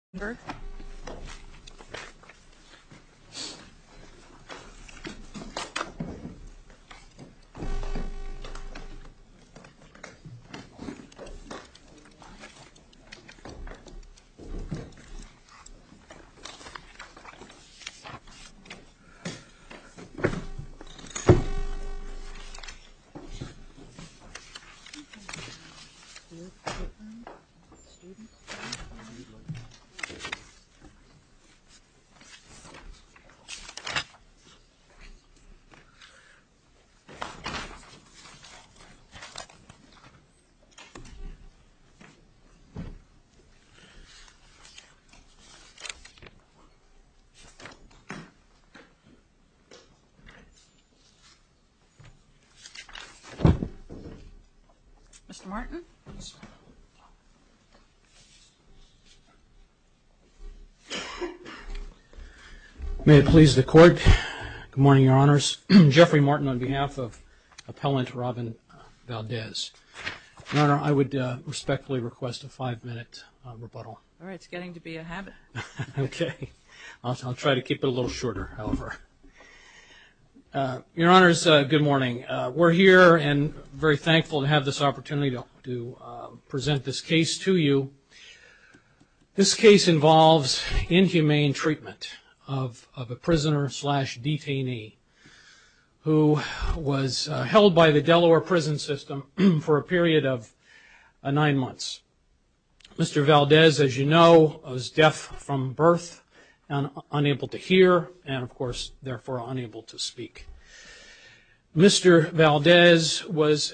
A. S. M. G. M. L. E. M. J. J. M. G. M. R. O. K. G. M. J. M. R. O. M. G. M. G. M. R. O. J. M. M. R. O. J. R. M. G. M. J. M. R. O. M. G. M. R. O. M. A. R. O. M. G. M. A. A. G. M. J. R. M. A. R. O. M. M. G. M. M. G. M. H. P. G. H. M. G. J. H. M. O. M. A. R. O. M. M. H. R. O. M. M. O. R. O. M. G. H. H. M. M. A. R. O. M. S. H. R. O. M. M. O. M. M. S. H. O. M. S. H. M. R. O. M. M. A. R. O. M. M. H. M. O. M. M. O. M. O. M. M. O. M. H. M. O. M. M. O. M. M. H. M. O. M. M. A. R. O. M. R. O. M. O. M. R. 2. R. 2 O. M. R. E. H. R. H. M. O. M. M. H. P. H. M. M. M. L. O. N. P. R. R. R. O. M. H. M. A M. R. E. H. O. M. H. M. R. O. M. H. O. M. L. M. O. S. W. M. L. R. O. M. O. N. M. H. M. O. R. R. O. R. E. A. T. M. R. H. O. O. M. H. M. O. R. O. M. O. R. E. L. M. M. M. R. H. O. M. H. M. O. M. M. O. R. E. L. M. M. M. M. R. E. L. M. M. R. H. E. K. R. P. M. S. S. J. P. L. J. Q. R. M. M. O. L. M. M. O. N. M. O. Q. P. M. O. L. M. O. N. M. Q. R. P. L. M. O. N. M. Q. R. P. L. M. O. N. M. O. Q. R. P. L. M. O. M. O. M. Q. R. P. L. M. O. N. M. Q. R. P. L. M. O. P. L. M. O. R. P. L. M. O. N. M. Q. R. P. L. M. Q. R. Q. R. Q. R. Q. O. M. O. S. Q. R. O. R. O. Y. Q. R. O. O. S. Q. R. O. S. Q. R. O. O. S. Q. R. O. O. Q. R. R. O. O. O. R. O. O. R. O. A. Q. O. Q. R. Q. R. O. Q. O. Q. O. Q. O. Q. R. O. Q. O. Q. R. O. Q. Q. O. Q. Q. O. Q. R. O. Q. A. Q. R. O. O. Q. O. Q. R. O. Q. C. Q. Q. O. U. Q. R. Q. A. Q. O. Q. A. R. R. Q. O. Q. U. Q. A. R. Q. O. O. Q. O. Q. O. Q. A. R. R. R. O. Q. O. Q. Q. T. Q. R. O. R. Q. O. Q. R. Q. Q. O. R. Q. O. Q. R. Q. R. Q. R. Q. O. Q. Q. Q. Q. Q. O. V. O. Q. R. Q. R. Q. Q. O. R. Q. R. Q. R. O. V. Q. Q. H. I. achu P. Q. N. honor. T. A. T. I. A. Q. A. Q. N. honor. I would definitely like to address this question, but I'd like to be sort of quick on the service issue. I think we have some substantive points we'd like to make, but on the service issue, I don't believe we have... Oh, but that's pretty determinative. If we were to hold that there was no service... Is it a threshold issue? ...it probably gets thrown out because of the statute of limitations. I would agree, and I will answer that question. I just think we have some merits to our substantive case. Okay. So you're going to tell us what you... However, I don't believe we've waived the service under Rule 12H. It requires either that the affirmative defense be raised in the answer or raised in a motion to dismiss. So it's an either-or situation. Well, that's the rule in order to preserve it at some point. Right. But then when you don't affirmatively say, yo, we should be out of here... In fact, when you say to the contrary, there are no other issues... No issues. In December, you said no other issues, and you wait until July when you file a summary judgment. Oh, by the way... Okay. So you're going to tell us what you... However, I don't believe we've waived the service under Rule 12H. Well, then you're going into discovery. Then you're really far afield. It was a discovery status letter. We raised the issue on the next motion stage. The rule doesn't require a motion to dismiss. So therefore, the next procedural step is you get through discovery, and you get to... Well, doesn't that invite a real problem? In fact, when you don't affirmatively say, yo, we should be out of here... What lawyers will do is insert a boilerplate SOP, service of process objection in their answer, lay in the weeds, engage in discovery, represent that there are no other issues for the Court's attention, and then after the statute of limitations is run, pop up with a motion for summary judgment and say they're gone. And that's in effect what your opponent is saying is what happened here. And the cases we gave you in that letter seem to indicate that yeah, that's problematic. So why don't you speak to those cases? How do you get around those cases which seem to say parties don't get to do that and 12H isn't a cover for them to do it? Well, respectfully, Your Honor, to get to the cases, the cases sort of presented a continuum. There were certainly cases that were about equivalent to ours, but then there were other cases that worked far, much further along that continuum. I would like to say, however, that we did raise it not only once, but service was really our answer. And generally, a plaintiff's lawyer generally comes back with a set of interrogatories that asks you to explain your affirmative defenses. We saw no such interrogatories in this case. Yeah. But you did, I mean, it's unrebutted, right, that you were fully engaged in the litigation of this case substantively and made no further attempt to disengage or even alert the other to the existence of an objection to personal jurisdiction until after the statute of limitations had run. Is that right? Well, Your Honor, this case was still filed in time. Essentially, the correct parties were named. The statute of limitations would not be. My question, though, is that factual recitation I just gave you is correct, isn't it? I believe that's correct. However, if he had served even on the day before summary judgment, despite the statute of limitations, the lawsuit was still filed timely. You know, we weren't playing a trick there. But if we throw it out for lack of personal jurisdiction, the case is gone and then would have to be refiled after the statute. Well, that is true, Your Honor. Yeah. However, he did have 14 months to serve. We never got an interrogatory about the issue. But I mean, I think we're aware that boilerplate, you know, affirmative defenses are just, you throw the laundry list. Let me ask you about qualified immunity. How did Judge Stark find so easily that there was no clearly established that the qualified immunity would be granted to all these defendants when there really is ADA law that prisoners are entitled under federal statute to accommodation over deafness? Let me just say, Your Honor, my opponent sort of goes back and forth between Eighth Amendment and ADA. And I would just like to say sort of as a preliminary matter, there's really nothing in the record that supports an Eighth Amendment violation. The damages here were his client did not get, the plaintiff didn't get to talk to his grandmother as often as he wanted. And he was put in solitary confinement for 15 days. After disciplinary hearing that he couldn't hear because they had him in his cell and he can't hear anyway. And he couldn't explain his side of the story. Respectfully, that's not true, Your Honor. If you look at the disciplinary proceedings, his story was recorded in the disciplinary write-ups. Yeah, but he couldn't hear the testimony, right? I mean, isn't there just like a fundamental problem with not providing an interpreter to a deaf person at a disciplinary hearing where you're about to give them sanctions and put them in solitary? Well, Your Honor, under cases like Sandin, the level of procedural due process required for inmate hearings is particularly low. He was only putting your best argument that deaf people don't get to participate. He did participate, Your Honor. He told his side of the story. Due process gives you an opportunity to present your side of the story and be heard. And he said, I was fighting and it wasn't my fault. But you can't hear what's being said on the other side and there's no interpreter. That's, you know, it's like half a loaf. Implicitly, don't you think due process also includes the right to hear? I mean, to be heard, sure, but to hear and know what's going on in the hearing. So if you're hearing impaired, doesn't it imply that you've got to have the tools to be able to participate meaningfully? Well, Your Honor, the plaintiff was given a written notice of the charges against him. So all of those charges were presented in writing. Wow. Okay. I'm a little surprised that that's where you want to plant your flag. But to be honest, I haven't sat in on an inmate disciplinary hearing, but I understand that they're a very cut and dry matter. It's just the charges are there. The inmate gets a chance to respond and a decision is made. But presumably there's some testimony and there's charges and then there's testimony and his ability to respond to something that he hasn't heard would be pretty tough. Respond implies that you know what was said in the first place. But the district court got the burden of proof here on qualified immunity wrong, didn't it? It said that the defendant that, quote, Valdez failed to deduce evidence from which it could be concluded that his rights were clearly established. Isn't the burden on you as the state and not on Valdez to establish what is and isn't clearly established? I mean, you've got the burden to get the protection of qualified immunity. Am I wrong about that? Who's the burden on? Well, I think the problem is regardless of who the burden is on, there is no clearly established right to. But we're reviewing what the district court did. So I guess I need to know in the first instance, was the district court in error in putting the burden on Valdez to show that his rights were clearly established? Or was the burden on you as the state to show that reasonable officials could not have known that their conduct constituted a violation? Well, Your Honor, I believe that qualified immunity is an affirmative defense that we have to raise. But it's also to get around it is a substantive. There's a substantive portion of it, and it is affirmative. But it's kind of a yes or no. Is the district court right or wrong in putting the burden on Valdez? I believe the district court was correct because in order to present his case, it's a burden of proof that he would have to meet that these people did in fact know. But if there's an affirmative defense, you have to prove that, don't you? Well, Your Honor, I think there's an issue of oftentimes the substantive areas get sort of intertwined with the qualified immunity. In fact, even in these cases, the personal involvement issue is sometimes framed as a qualified immunity issue. Sometimes it's framed as a substantive issue. Well, there's not any confusion. I mean, I'm not confused about this. You've got qualified immunity. If you can prove you have qualified immunity, it's an affirmative defense. You've got the burden of proof. What's confusing about that? Well, I believe that it's evident that this is just not a clearly established law against, certainly not against state individual actors to the extent that Chisholm. Who had the responsibility of showing that? Did he have the responsibility to show that it is clearly established? Well, it's sort of hard to argue in the vacuum of this doesn't exist. So we present forward that there's no issue. There's no established authority that individual defendants can be held personally liable for this, which is a very disturbing thing to do for correctional, senior correctional. At what point do they become personal liable? Do we have to get the qualified immunity if there's no personal involvement? I don't believe under Ashcroft v. Iqbal that's necessary. Ashcroft v. Iqbal certainly has reiterated that they must be a moving force. Not only that, but it requires personal knowledge and acquiescence, which I believe is a little tweak from Sample, although I don't know that I believe even the sample analysis works for us in this case, because in Sample there were ongoing over-detention issues, which at least under a constructive knowledge theory would work. There's certainly no evidence in the record here that would put defendants on a constructive knowledge theory that there's a problem going on. How about the grievances that were filed? Certainly that would have put them on notice, would it not? Respectfully, Your Honor, no, it would not. The grievances go through a grievance process that go up to a grievance chair. Just because an inmate is filing grievances, which many of them do, doesn't mean it comes up to the warden level. So none of these individuals you're saying, Danberg, Phelps, Klein, really were involved in that process? There was very little. Only at the very last moment did a letter go to the warden, and the warden delegated that letter to his chief counselor, Mr. Hosterman, and by all accounts in the record, that issue was dealt with. If you were the commissioner or you were a warden, you wouldn't go follow up if the record suggested that the issue was signed off and resolved. Did he note, was there an awareness that it had been signed off and resolved? It was listed on the grievance. The grievance came back as signed off, as resolved. So if he did go check in, we have a system called DAX. It's a tracking system. I don't think a reasonable manager would have a duty to go any further than that. All right. Anything else? I mean, I would just conclude, in conclusion, I would just say there's absolutely nothing in the record to suggest that Mr. Valdez was subjected to any kind of cruel and unusual punishment under the Eighth Amendment, which is the theory that's in the complaint. Perhaps there's due process, but that wasn't really the cause of action that Mr. Martin just presented. And I don't believe that Chisholm creates a right that can be held against individual actors. It would be very disturbing for this court to impose ADA liability on individual managers. The ADA is written to apply to the state for a reason. As managers, my clients have to manage a budget, which is given to them by the General Assembly. If they don't have the ability to provide necessary things for the disabled, the correct remedy should be to hit the state, to hit the state coffers, not to hit individual people. I mean, this is also a slippery slope. At what point would an individual manager become personally liable? Mr. Danburg was, he was two years in, but the Corrections Department is a large department, and if you believe what many of our adversaries say, it had a history of, it's a difficult to manage department. But Dr. Fee, Chisholm involved a 1983 suit against individuals, did it not? No, Your Honor, I believe Chisholm was an ADA suit. Well, it's pled with under 1983 as well. All right, we'll sort through that. Thank you. If there's nothing else, I'll conclude. All right, thank you. Mr. Martin, you reserved? Yes, Judge Rendell, you were right. It was against individuals, probably as well as the department. It was a 1983 action. This case that was decided by Judge Roth. With regard to the personal involvement issue, when I was questioned earlier, I think the questioning really related strictly to one of the four defendants, Carl Danburg, the Commissioner of Correction. I think we have some rather strong evidence that links in a personal involvement way the other three defendants, the warden of the prison, Mr. Phelps, as well as Deputy Wardens Kline and Pierce. And what I'm referring to specifically is a letter that Mr. Connell just acknowledged. My client sent to the warden addressed as a final notice sometime around October 5th, 2009, which was roughly halfway through his incarceration period. The letter was sent directly to the warden's office. Warden said, you know, please handle, and he CC'd the two deputy wardens. Where is that letter? Is this considered a grievance, I guess, according to the system? It was treated as such, Your Honor. But, you know, it raised some very disturbing issues. And this, by the way, is found in JA-192. But it really talked about the fact that he had been denied accommodations for the first, for his entire stay up until October. And, you know, whether they handled it as a grievance or not, they were certainly on knowledge that they had knowledge. So what's wrong with please handle? What's wrong with please handle? How does that show, how does that make him liable? Well, and actually, to be fair, the please handle was to this Ron Hosterman, who was the treatment coordinator. But then the grievance was filed two days later, correct? Yes, that's correct. And was handled? Well, it was handled by Mr. Hosterman. Right. Which allowed him the use of the TTY on one occasion. Sure. Now, whether that's right or wrong, the question is, should the warden have done more? If the warden gives the information, which appears to be in the nature of a grievance, to the person who's responsible for handling these kind of grievances and says, please handle, address this, and in fact that happens, how does that show that the warden is a moving force behind a deprivation? Your Honor, this letter was written directly to the warden. And it talked about the fact that my client was deaf and that he has not had any phone calls. Sure. But you're not suggesting, are you, that prisoners can jump the grievance system and create substantive rights for themselves simply by writing to the warden, are you? No, I'm not, Your Honor. But this certainly should have put him on notice. I believe, as in Mr. Danburg, I think he should have been on notice already because they freely acknowledged, and I must say with callous indifference in their deposition testimony, hey, we don't have any type of policies for deaf people. If we treated them differently, we would be discriminating against the general population. Let's stick with what you've alleged and we're dealing with here, which is the idea that the warden is on notice and therefore should have done something. And in this case, he does do something. He passes this on to somebody who's responsible for handling it. And I'm trying to chase down the theory you've got, Mr. Martin, for why that is not only not enough, but it actually represents a sort of a moving force behind deprivations that constitute cruel and unusual punishment. The warden, in this case, Warden Phelps, was the chief administrator of the Vaughan prison. And he was put on direct notice that he had a prisoner who was not getting any accommodations for his hearing impairment. It's easy to delegate, Your Honor. As a chief administrator, it's easy to delegate. But he was put on specific notice by Mr. Valdez. Not only easy to delegate, perhaps, but essential to delegate, right? Because the warden can't be addressing each individual prisoner's grievances if they choose to write them. He's got to give it back within the system that's set up. He does that. And evidently, somebody tells him or lists in the system it's addressed, it's been handled. What's the flaw in the way he handled that? If I may, Your Honor, I don't believe that this particular document, and Judge Randall pointed out that there was a grievance that was filed a couple days later. But this particular document doesn't say it was handled. Rather, it just says, essentially, hey, Ron, you deal with this. I don't want to deal with this. But then the grievance was handled. I mean, it would be a different situation if Valdez had not signed off on his grievance and had persisted and said, what you're doing is wrong. This isn't just one thing. It's systemic. But we don't have that. We have something that actually was resolved. And if the warden checked it, would find that the prisoner was satisfied. What's a warden to do? Momentarily, Your Honor, because depositions make this very clear as well. This was a ticket for one telephone call. That was one telephone call, Your Honor. He was in for nine months. And then he filed another grievance. And he testified that he filed a lot more grievances that were produced in the record. He had great difficulty in contacting the staff. And he just was unable to communicate. All right. Thank you, Your Honors. Appreciate it. Thank you.